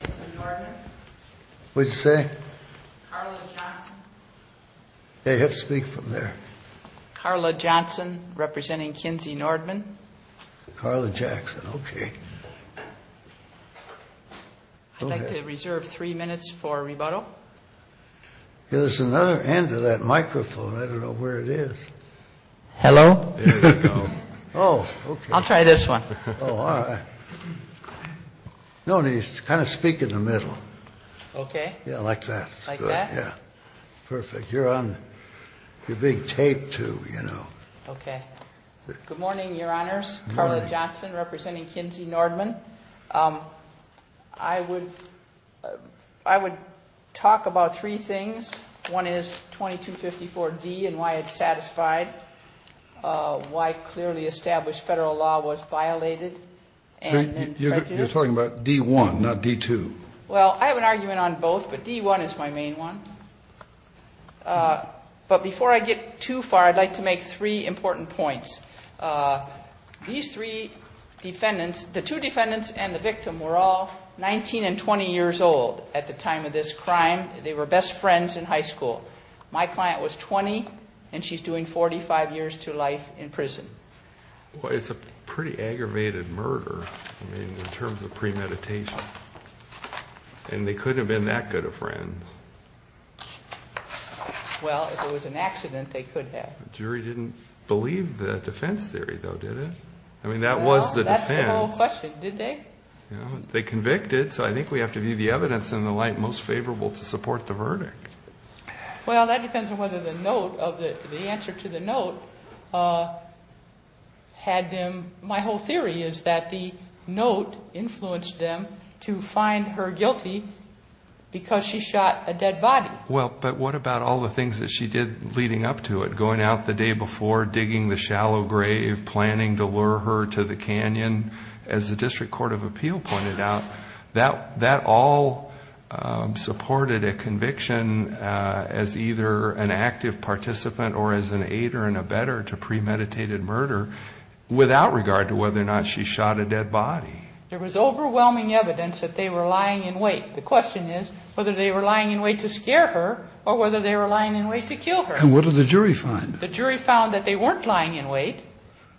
I'd like to reserve three minutes for rebuttal. There's another end of that microphone. I don't know where it is. Hello. Oh, I'll try this one. Oh, all right. No, kind of speak in the middle. Okay. Yeah, like that. Like that? Yeah. Perfect. You're on, you're being taped too, you know. Okay. Good morning, Your Honors. Good morning. Carla Johnson representing Kinzie Noordman. I would talk about three things. One is 2254D and why it's satisfied. Why clearly established federal law was violated. You're talking about D1, not D2. Well, I have an argument on both, but D1 is my main one. But before I get too far, I'd like to make three important points. These three defendants, the two defendants and the victim were all 19 and 20 years old at the time of this crime. They were best friends in high school. My client was 20, and she's doing 45 years to life in prison. Well, it's a pretty aggravated murder, I mean, in terms of premeditation. And they couldn't have been that good of friends. Well, if it was an accident, they could have. The jury didn't believe the defense theory, though, did it? I mean, that was the defense. Well, that's the whole question, did they? They convicted, so I think we have to view the evidence in the light most favorable to support the verdict. Well, that depends on whether the note of the answer to the note had them. My whole theory is that the note influenced them to find her guilty because she shot a dead body. Well, but what about all the things that she did leading up to it, going out the day before, digging the shallow grave, planning to lure her to the canyon? As the District Court of Appeal pointed out, that all supported a conviction as either an active participant or as an aid or an abetter to premeditated murder without regard to whether or not she shot a dead body. There was overwhelming evidence that they were lying in wait. The question is whether they were lying in wait to scare her or whether they were lying in wait to kill her. And what did the jury find? The jury found that they weren't lying in wait.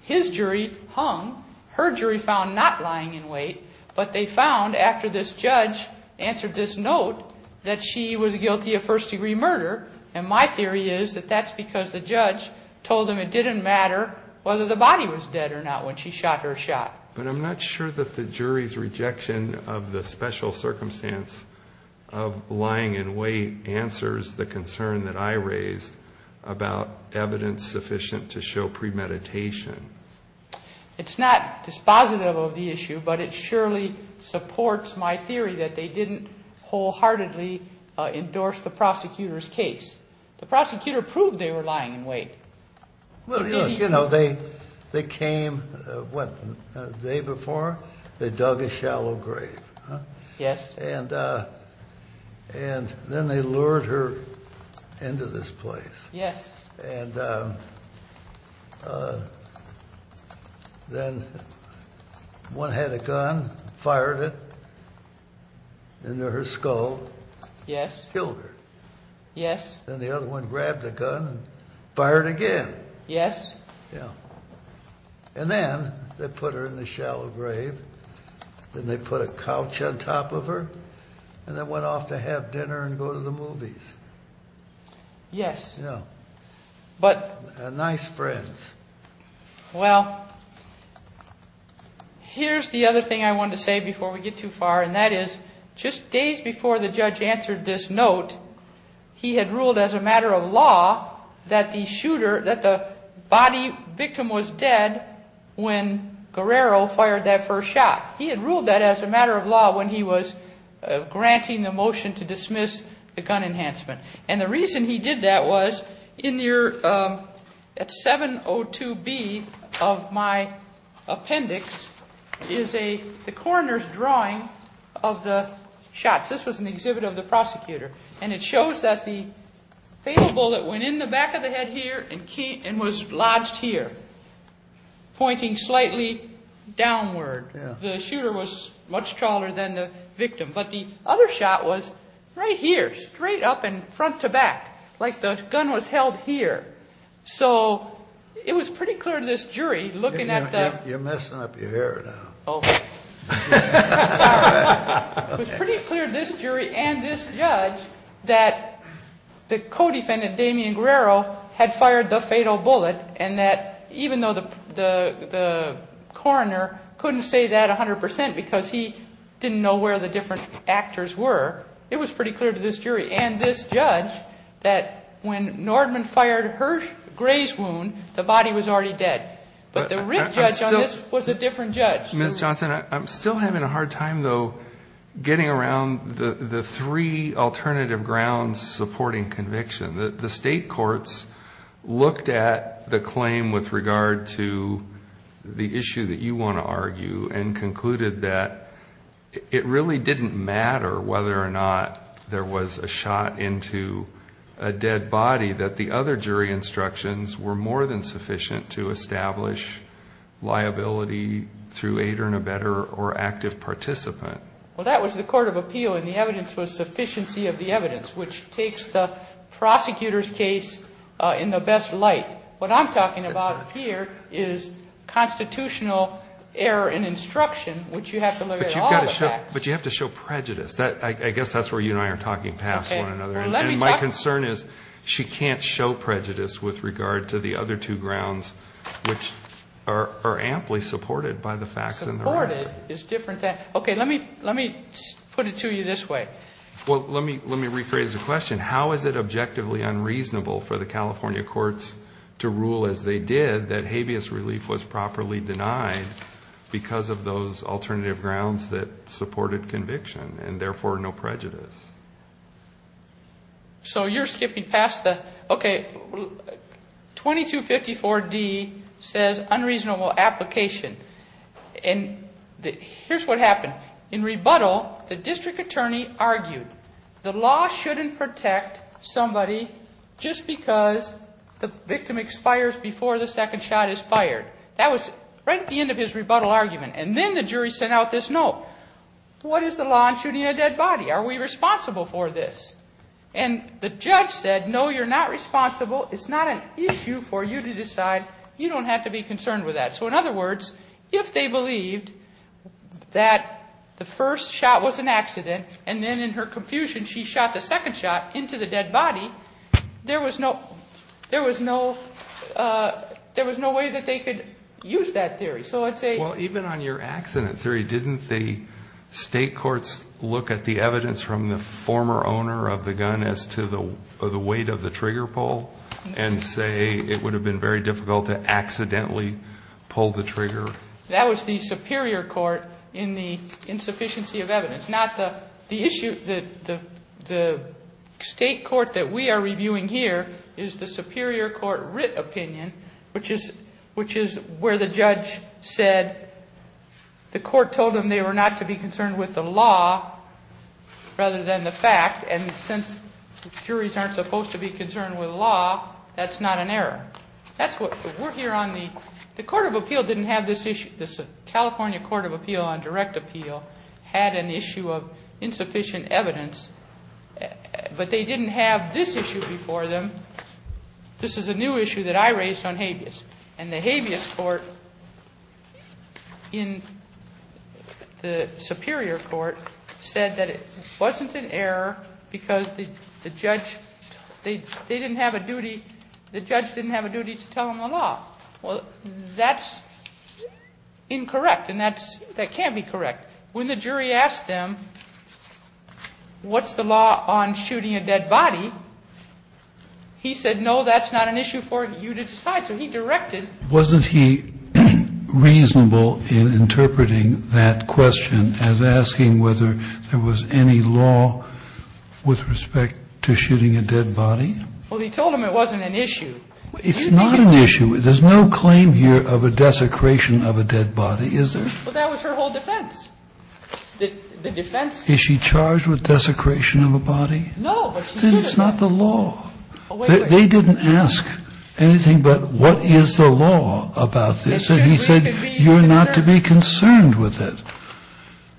His jury hung. Her jury found not lying in wait. But they found, after this judge answered this note, that she was guilty of first-degree murder. And my theory is that that's because the judge told them it didn't matter whether the body was dead or not when she shot her shot. But I'm not sure that the jury's rejection of the special circumstance of lying in wait answers the concern that I raised about evidence sufficient to show premeditation. It's not dispositive of the issue, but it surely supports my theory that they didn't wholeheartedly endorse the prosecutor's case. The prosecutor proved they were lying in wait. Well, you know, they came, what, the day before? They dug a shallow grave. Yes. And then they lured her into this place. Yes. And then one had a gun, fired it into her skull. Yes. Killed her. Yes. Then the other one grabbed the gun and fired again. Yes. Yeah. And then they put her in the shallow grave, then they put a couch on top of her, and then went off to have dinner and go to the movies. Yes. Yeah. But. Nice friends. Well, here's the other thing I wanted to say before we get too far, and that is just days before the judge answered this note, he had ruled as a matter of law that the shooter, that the body victim was dead when Guerrero fired that first shot. He had ruled that as a matter of law when he was granting the motion to dismiss the gun enhancement. And the reason he did that was at 702B of my appendix is the coroner's drawing of the shots. This was an exhibit of the prosecutor. And it shows that the fatal bullet went in the back of the head here and was lodged here, pointing slightly downward. Yes. The shooter was much taller than the victim. But the other shot was right here, straight up and front to back, like the gun was held here. So it was pretty clear to this jury looking at the. You're messing up your hair now. Oh. It was pretty clear to this jury and this judge that the co-defendant, Damian Guerrero, had fired the fatal bullet, and that even though the coroner couldn't say that 100% because he didn't know where the different actors were, it was pretty clear to this jury and this judge that when Nordman fired Gray's wound, the body was already dead. But the writ judge on this was a different judge. Ms. Johnson, I'm still having a hard time, though, getting around the three alternative grounds supporting conviction. The state courts looked at the claim with regard to the issue that you want to argue and concluded that it really didn't matter whether or not there was a shot into a dead body, that the other jury instructions were more than sufficient to establish liability through a better or active participant. Well, that was the court of appeal, and the evidence was sufficiency of the evidence, which takes the prosecutor's case in the best light. What I'm talking about here is constitutional error in instruction, which you have to look at all the facts. But you have to show prejudice. I guess that's where you and I are talking past one another. And my concern is she can't show prejudice with regard to the other two grounds, which are amply supported by the facts in the record. Supported is different. Okay, let me put it to you this way. Well, let me rephrase the question. How is it objectively unreasonable for the California courts to rule as they did that habeas relief was properly denied because of those alternative grounds that supported conviction and therefore no prejudice? So you're skipping past the, okay, 2254D says unreasonable application. And here's what happened. In rebuttal, the district attorney argued the law shouldn't protect somebody just because the victim expires before the second shot is fired. That was right at the end of his rebuttal argument. And then the jury sent out this note. What is the law in shooting a dead body? Are we responsible for this? And the judge said, no, you're not responsible. It's not an issue for you to decide. You don't have to be concerned with that. So, in other words, if they believed that the first shot was an accident and then in her confusion she shot the second shot into the dead body, there was no way that they could use that theory. Well, even on your accident theory, didn't the state courts look at the evidence from the former owner of the gun as to the weight of the trigger pull and say it would have been very difficult to accidentally pull the trigger? That was the superior court in the insufficiency of evidence, not the issue that the state court that we are reviewing here is the superior court writ opinion, which is where the judge said the court told them they were not to be concerned with the law rather than the fact. And since juries aren't supposed to be concerned with law, that's not an error. That's what we're here on. The Court of Appeal didn't have this issue. The California Court of Appeal on Direct Appeal had an issue of insufficient evidence, but they didn't have this issue before them. This is a new issue that I raised on habeas. And the habeas court in the superior court said that it wasn't an error because the judge, they didn't have a duty, the judge didn't have a duty to tell them the law. Well, that's incorrect, and that's, that can't be correct. When the jury asked them what's the law on shooting a dead body, he said no, that's not an issue for you to decide. So he directed. Kennedy, wasn't he reasonable in interpreting that question as asking whether there was any law with respect to shooting a dead body? Well, he told them it wasn't an issue. It's not an issue. There's no claim here of a desecration of a dead body, is there? Well, that was her whole defense. The defense. Is she charged with desecration of a body? No, but she said it. Then it's not the law. They didn't ask anything but what is the law about this? And he said you're not to be concerned with it.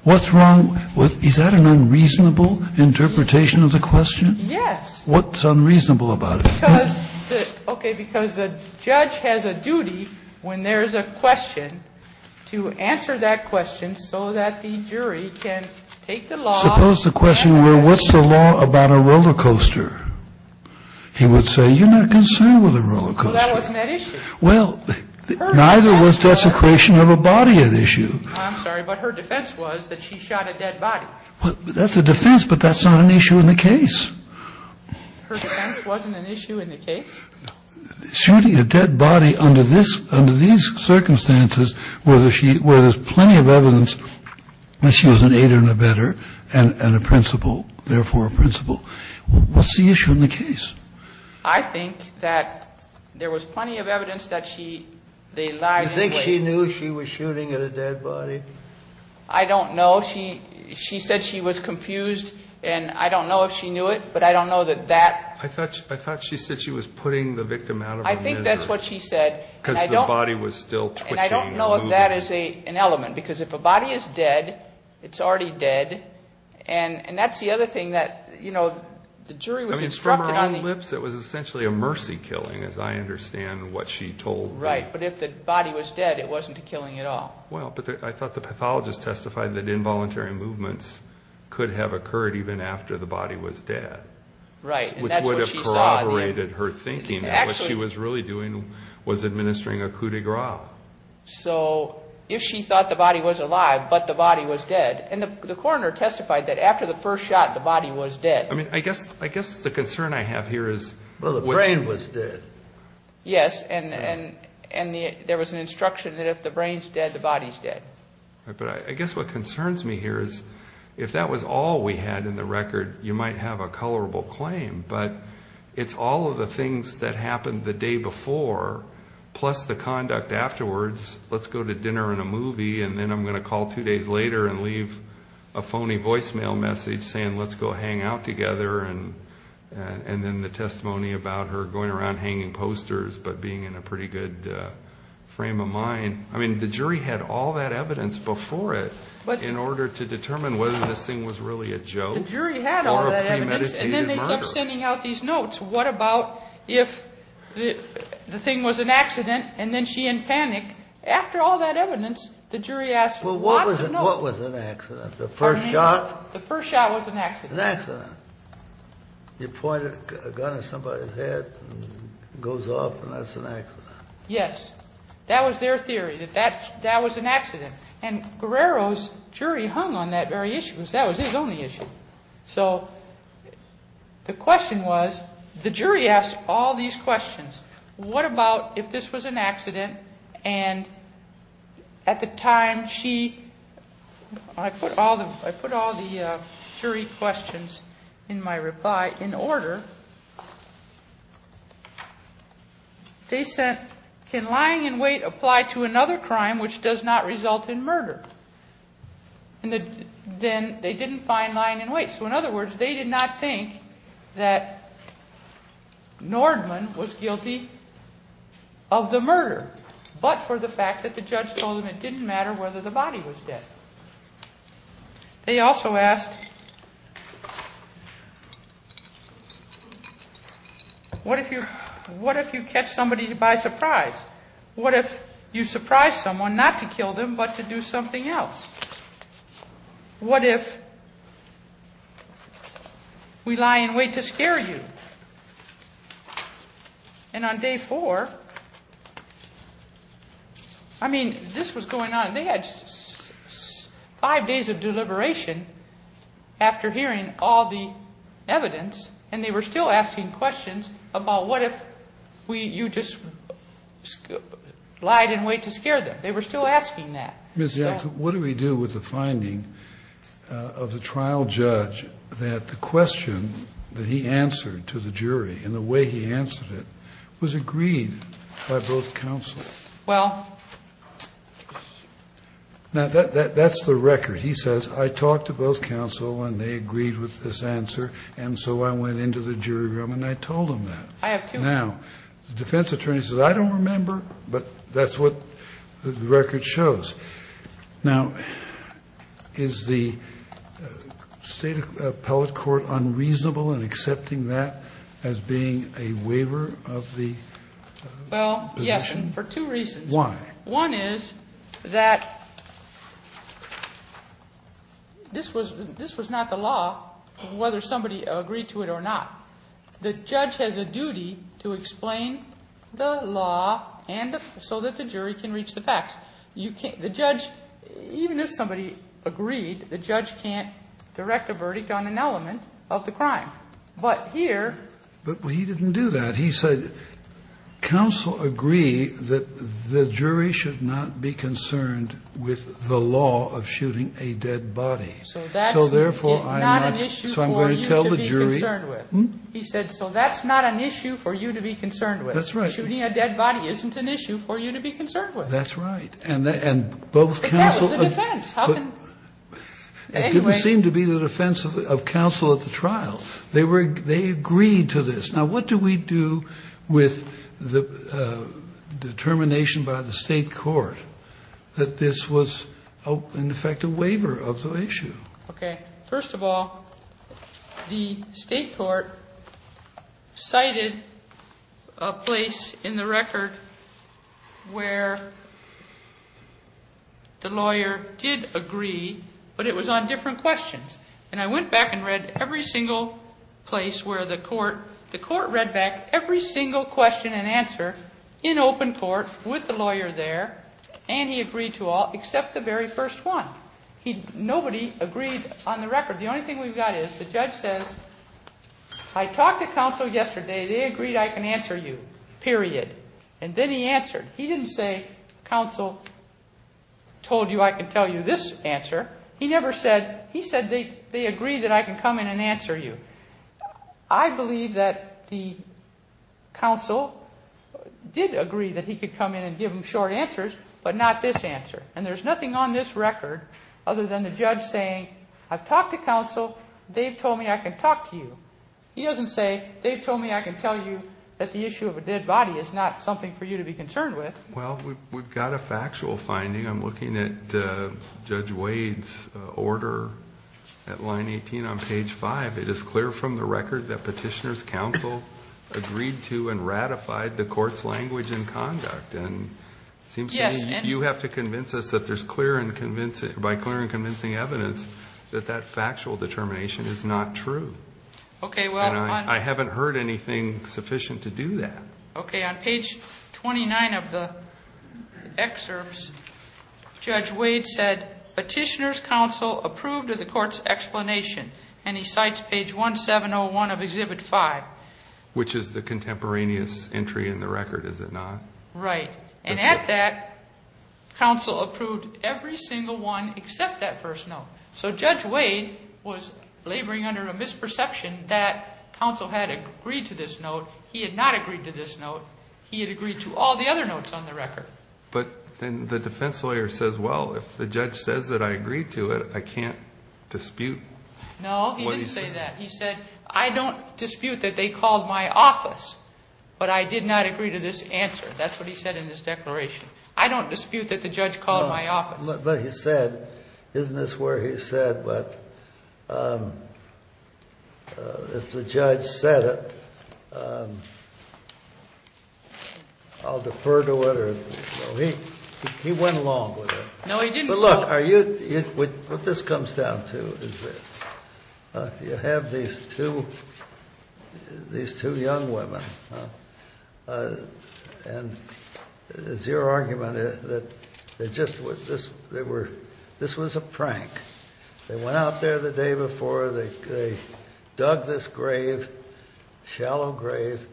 What's wrong with, is that an unreasonable interpretation of the question? Yes. What's unreasonable about it? Because the, okay, because the judge has a duty when there's a question to answer that question so that the jury can take the law. Suppose the question were what's the law about a roller coaster? He would say you're not concerned with a roller coaster. Well, that wasn't at issue. Well, neither was desecration of a body at issue. I'm sorry, but her defense was that she shot a dead body. That's a defense, but that's not an issue in the case. Her defense wasn't an issue in the case? Shooting a dead body under this, under these circumstances where there's plenty of evidence that she was an aider and abetter and a principal, therefore a principal. What's the issue in the case? I think that there was plenty of evidence that she, they lied. Do you think she knew she was shooting at a dead body? I don't know. She said she was confused, and I don't know if she knew it, but I don't know that that. I thought she said she was putting the victim out of her misery. I think that's what she said. Because the body was still twitching and moving. And I don't know if that is an element, because if a body is dead, it's already dead, and that's the other thing that, you know, the jury was instructed on. I mean, from her own lips, it was essentially a mercy killing, as I understand what she told me. Right, but if the body was dead, it wasn't a killing at all. Well, but I thought the pathologist testified that involuntary movements could have occurred even after the body was dead. Right, and that's what she saw. Which would have corroborated her thinking. What she was really doing was administering a coup de grace. Wow. So, if she thought the body was alive, but the body was dead. And the coroner testified that after the first shot, the body was dead. I mean, I guess the concern I have here is... Well, the brain was dead. Yes, and there was an instruction that if the brain's dead, the body's dead. But I guess what concerns me here is if that was all we had in the record, you might have a colorable claim, but it's all of the things that happened the day before, plus the conduct afterwards. Let's go to dinner and a movie, and then I'm going to call two days later and leave a phony voicemail message saying let's go hang out together, and then the testimony about her going around hanging posters, but being in a pretty good frame of mind. I mean, the jury had all that evidence before it in order to determine whether this thing was really a joke or a premeditated murder. So what about if the thing was an accident and then she in panic? After all that evidence, the jury asked lots of notes. Well, what was an accident? The first shot? The first shot was an accident. An accident. You point a gun at somebody's head and it goes off, and that's an accident. Yes. That was their theory, that that was an accident. And Guerrero's jury hung on that very issue. That was his only issue. So the question was, the jury asked all these questions. What about if this was an accident and at the time she, I put all the jury questions in my reply in order. They said, can lying in wait apply to another crime which does not result in murder? And then they didn't find lying in wait. So in other words, they did not think that Nordman was guilty of the murder, but for the fact that the judge told them it didn't matter whether the body was dead. They also asked, what if you catch somebody by surprise? What if you surprise someone not to kill them but to do something else? What if we lie in wait to scare you? And on day four, I mean, this was going on. They had five days of deliberation after hearing all the evidence, and they were still asking questions about what if you just lied in wait to scare them. They were still asking that. Mr. Jackson, what do we do with the finding of the trial judge that the question that he answered to the jury and the way he answered it was agreed by both counsel? Well. Now, that's the record. He says, I talked to both counsel and they agreed with this answer, and so I went into the jury room and I told them that. I have two. Now, the defense attorney says, I don't remember, but that's what the record shows. Now, is the State appellate court unreasonable in accepting that as being a waiver of the position? Well, yes, and for two reasons. Why? One is that this was not the law, whether somebody agreed to it or not. The judge has a duty to explain the law so that the jury can reach the facts. The judge, even if somebody agreed, the judge can't direct a verdict on an element of the crime. But here. But he didn't do that. He said counsel agree that the jury should not be concerned with the law of shooting a dead body. So therefore, I'm not. So I'm going to tell the jury. He said, so that's not an issue for you to be concerned with. That's right. Shooting a dead body isn't an issue for you to be concerned with. That's right. And both counsel. But that was the defense. It didn't seem to be the defense of counsel at the trial. They agreed to this. Now, what do we do with the determination by the state court that this was, in effect, a waiver of the issue? Okay. First of all, the state court cited a place in the record where the lawyer did agree, but it was on different questions. And I went back and read every single place where the court, the court read back every single question and answer in open court with the lawyer there, and he agreed to all except the very first one. Nobody agreed on the record. The only thing we've got is the judge says, I talked to counsel yesterday. They agreed I can answer you. Period. And then he answered. He didn't say, counsel told you I can tell you this answer. He never said, he said they agreed that I can come in and answer you. I believe that the counsel did agree that he could come in and give him short answers, but not this answer. And there's nothing on this record other than the judge saying, I've talked to counsel. They've told me I can talk to you. He doesn't say, they've told me I can tell you that the issue of a dead body is not something for you to be concerned with. Well, we've got a factual finding. I'm looking at Judge Wade's order at line 18 on page 5. It is clear from the record that petitioner's counsel agreed to and ratified the court's language and conduct. And it seems to me you have to convince us that there's clear and convincing, by clear and convincing evidence, that that factual determination is not true. Okay. And I haven't heard anything sufficient to do that. Okay. On page 29 of the excerpts, Judge Wade said, petitioner's counsel approved of the court's explanation. And he cites page 1701 of Exhibit 5. Which is the contemporaneous entry in the record, is it not? Right. And at that, counsel approved every single one except that first note. So Judge Wade was laboring under a misperception that counsel had agreed to this note. He had not agreed to this note. He had agreed to all the other notes on the record. But the defense lawyer says, well, if the judge says that I agree to it, I can't dispute. No, he didn't say that. He said, I don't dispute that they called my office, but I did not agree to this answer. That's what he said in his declaration. I don't dispute that the judge called my office. But he said, isn't this where he said, but if the judge said it, I'll defer to it? He went along with it. No, he didn't go along. But look, what this comes down to is you have these two young women. And it's your argument that this was a prank. They went out there the day before. They dug this grave, shallow grave.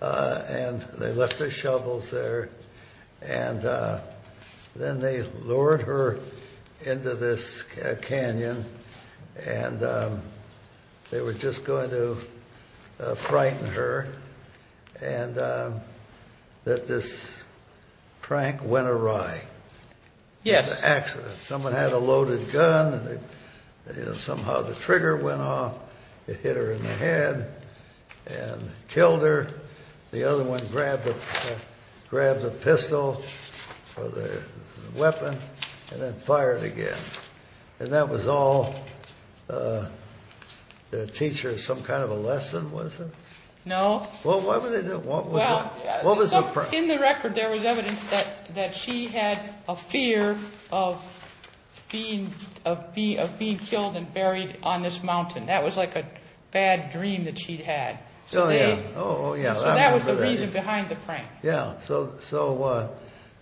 And they left their shovels there. And then they lured her into this canyon. And they were just going to frighten her. And that this prank went awry. Yes. It was an accident. Someone had a loaded gun. Somehow the trigger went off. It hit her in the head and killed her. The other one grabbed the pistol or the weapon and then fired again. And that was all a teacher, some kind of a lesson, was it? No. Well, what was it? Well, in the record there was evidence that she had a fear of being killed and buried on this mountain. That was like a bad dream that she'd had. Oh, yeah. So that was the reason behind the prank. Yeah. So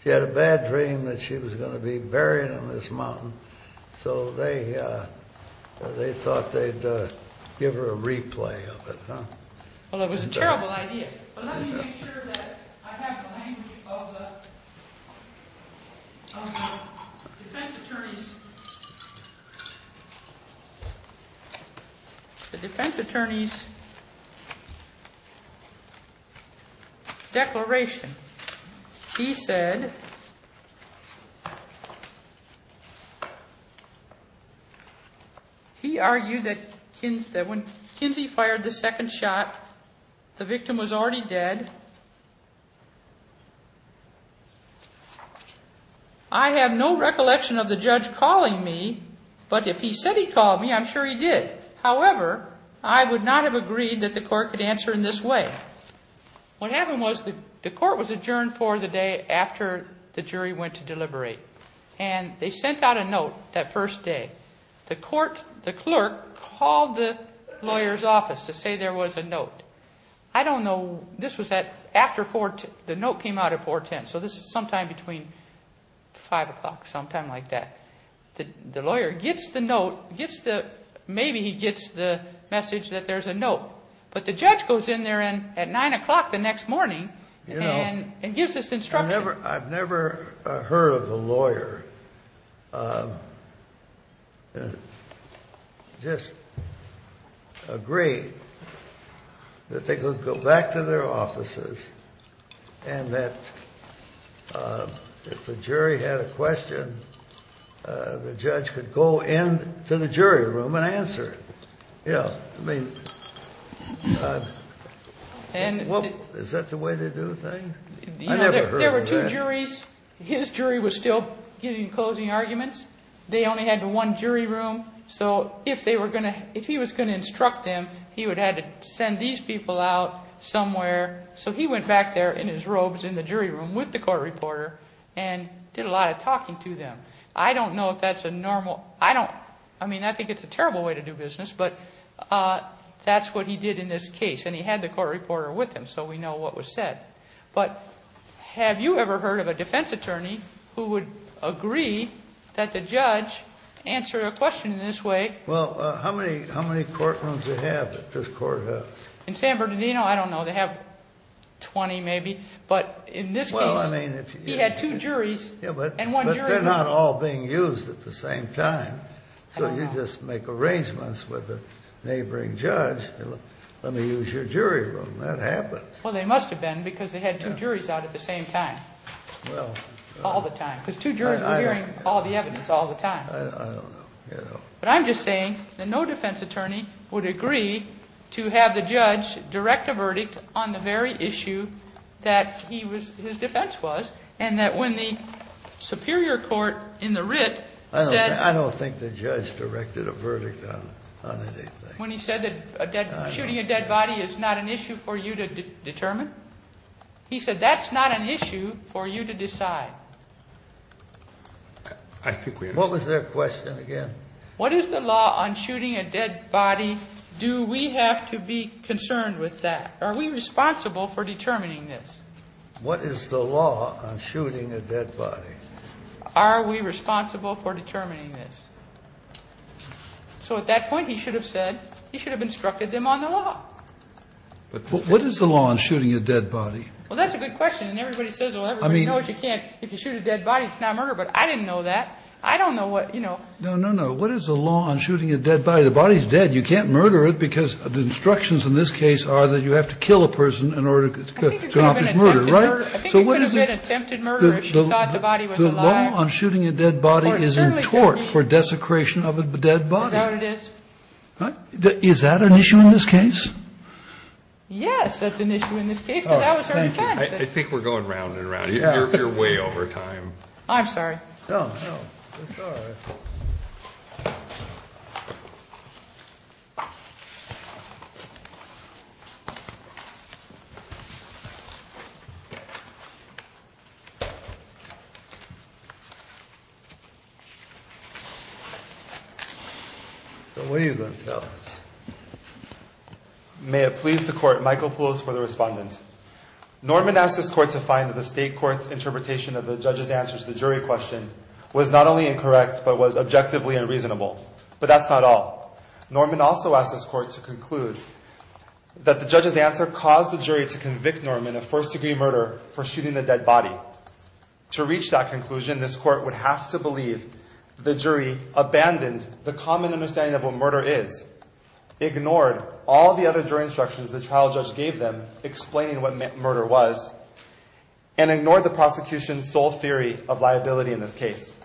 she had a bad dream that she was going to be buried on this mountain. So they thought they'd give her a replay of it. Well, it was a terrible idea. But let me make sure that I have the language of the defense attorney's declaration. He said he argued that when Kinsey fired the second shot, the victim was already dead. I have no recollection of the judge calling me, but if he said he called me, I'm sure he did. However, I would not have agreed that the court could answer in this way. What happened was the court was adjourned for the day after the jury went to deliberate. And they sent out a note that first day. The court, the clerk, called the lawyer's office to say there was a note. I don't know. This was after 410. The note came out at 410. So this is sometime between 5 o'clock, sometime like that. The lawyer gets the note. Maybe he gets the message that there's a note. But the judge goes in there at 9 o'clock the next morning and gives this instruction. I've never heard of a lawyer that just agreed that they could go back to their offices and that if the jury had a question, the judge could go into the jury room and answer it. Yeah. I mean, is that the way they do things? I've never heard of that. There were two juries. His jury was still getting closing arguments. They only had one jury room. So if they were going to, if he was going to instruct them, he would have had to send these people out somewhere. So he went back there in his robes in the jury room with the court reporter and did a lot of talking to them. I don't know if that's a normal. I don't. I mean, I think it's a terrible way to do business, but that's what he did in this case. And he had the court reporter with him, so we know what was said. But have you ever heard of a defense attorney who would agree that the judge answered a question in this way? Well, how many courtrooms do they have that this court has? In San Bernardino, I don't know. They have 20 maybe. But in this case, he had two juries and one jury room. They're not all being used at the same time. So you just make arrangements with a neighboring judge. Let me use your jury room. That happens. Well, they must have been because they had two juries out at the same time. Well. All the time. Because two juries were hearing all the evidence all the time. I don't know. But I'm just saying that no defense attorney would agree to have the judge direct a verdict on the very issue that he was, his defense was, and that when the superior court in the writ said. I don't think the judge directed a verdict on anything. When he said that shooting a dead body is not an issue for you to determine? He said that's not an issue for you to decide. I think we understand. What was their question again? What is the law on shooting a dead body? Do we have to be concerned with that? Are we responsible for determining this? What is the law on shooting a dead body? Are we responsible for determining this? So at that point, he should have said, he should have instructed them on the law. But what is the law on shooting a dead body? Well, that's a good question. And everybody says, well, everybody knows you can't. If you shoot a dead body, it's not murder. But I didn't know that. I don't know what, you know. No, no, no. What is the law on shooting a dead body? The body is dead. You can't murder it because the instructions in this case are that you have to kill a person in order to accomplish murder, right? I think you could have attempted murder if you thought the body was alive. The law on shooting a dead body is in tort for desecration of a dead body. That's how it is. What? Is that an issue in this case? Yes, that's an issue in this case, because I was there at the time. I think we're going round and round. You're way over time. I'm sorry. No, no. It's all right. What are you going to tell us? May it please the court, Michael Poulos for the respondent. Norman asked this court to find that the state court's interpretation of the judge's answer to the jury question was not only incorrect, but was objectively unreasonable. But that's not all. Norman also asked this court to conclude that the judge's answer caused the jury to convict Norman of first-degree murder for shooting a dead body. To reach that conclusion, this court would have to believe the jury abandoned the common understanding of what murder is, ignored all the other jury instructions the trial judge gave them explaining what murder was, and ignored the prosecution's sole theory of liability in this case.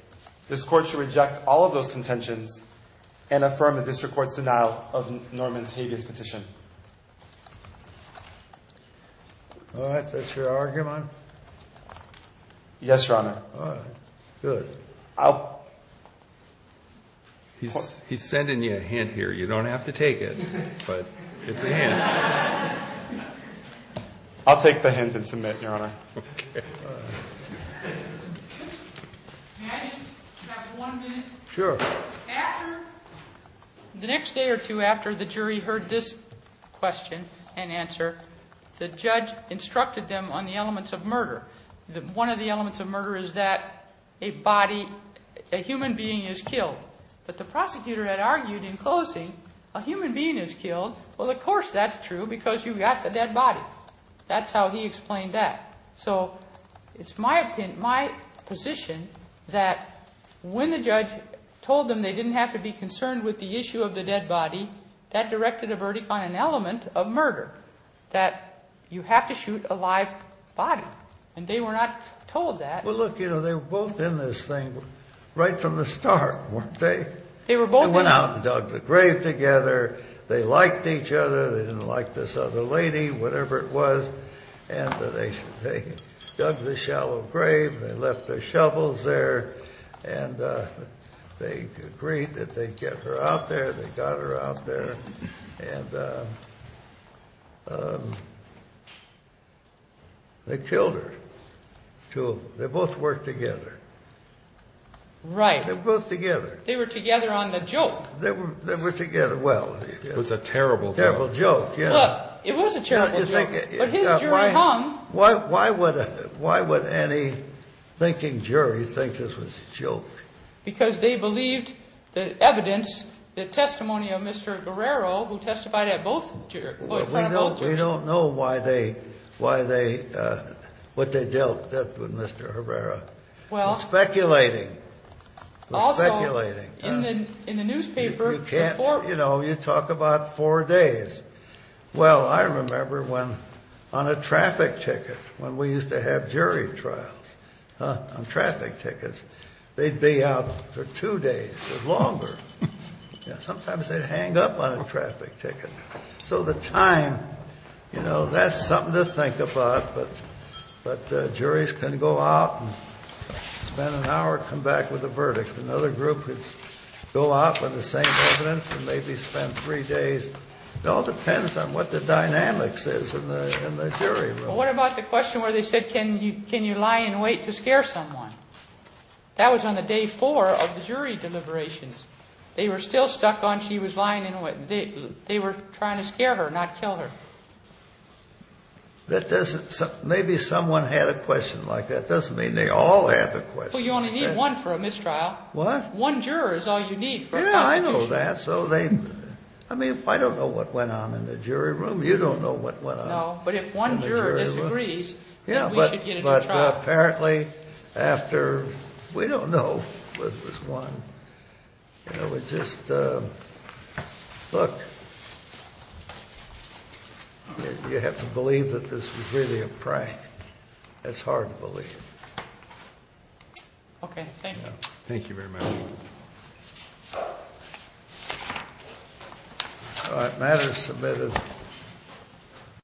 This court should reject all of those contentions and affirm the district court's denial of Norman's habeas petition. All right. That's your argument? Yes, Your Honor. All right. Good. He's sending you a hint here. You don't have to take it, but it's a hint. I'll take the hint and submit, Your Honor. Okay. Can I just have one minute? Sure. After, the next day or two after the jury heard this question and answer, the judge instructed them on the elements of murder. One of the elements of murder is that a body, a human being is killed. But the prosecutor had argued in closing a human being is killed. Well, of course that's true because you've got the dead body. That's how he explained that. So it's my position that when the judge told them they didn't have to be concerned with the issue of the dead body, that directed a verdict on an element of murder, that you have to shoot a live body. And they were not told that. Well, look, you know, they were both in this thing right from the start, weren't they? They were both in it. They went out and dug the grave together. They liked each other. They didn't like this other lady, whatever it was. And they dug the shallow grave. They left their shovels there. And they agreed that they'd get her out there. They got her out there. And they killed her, two of them. They both worked together. Right. They were both together. They were together on the joke. They were together. Well, it was a terrible joke. Look, it was a terrible joke. But his jury hung. Why would any thinking jury think this was a joke? We don't know why they, what they dealt with Mr. Herrera. Speculating. Speculating. In the newspaper. You talk about four days. Well, I remember when on a traffic ticket, when we used to have jury trials on traffic tickets, they'd be out for two days or longer. Sometimes they'd hang up on a traffic ticket. So the time, you know, that's something to think about. But juries can go out and spend an hour, come back with a verdict. Another group would go out with the same evidence and maybe spend three days. It all depends on what the dynamics is in the jury room. What about the question where they said, can you lie in wait to scare someone? That was on the day four of the jury deliberations. They were still stuck on she was lying in wait. They were trying to scare her, not kill her. That doesn't, maybe someone had a question like that. Doesn't mean they all had the question. You only need one for a mistrial. One juror is all you need. Yeah, I know that. So they, I mean, I don't know what went on in the jury room. You don't know what went on. No, but if one juror disagrees, then we should get into a trial. But apparently after, we don't know what was won. It's just, look, you have to believe that this was really a prank. It's hard to believe. Okay, thank you. Thank you very much. All right, matter submitted.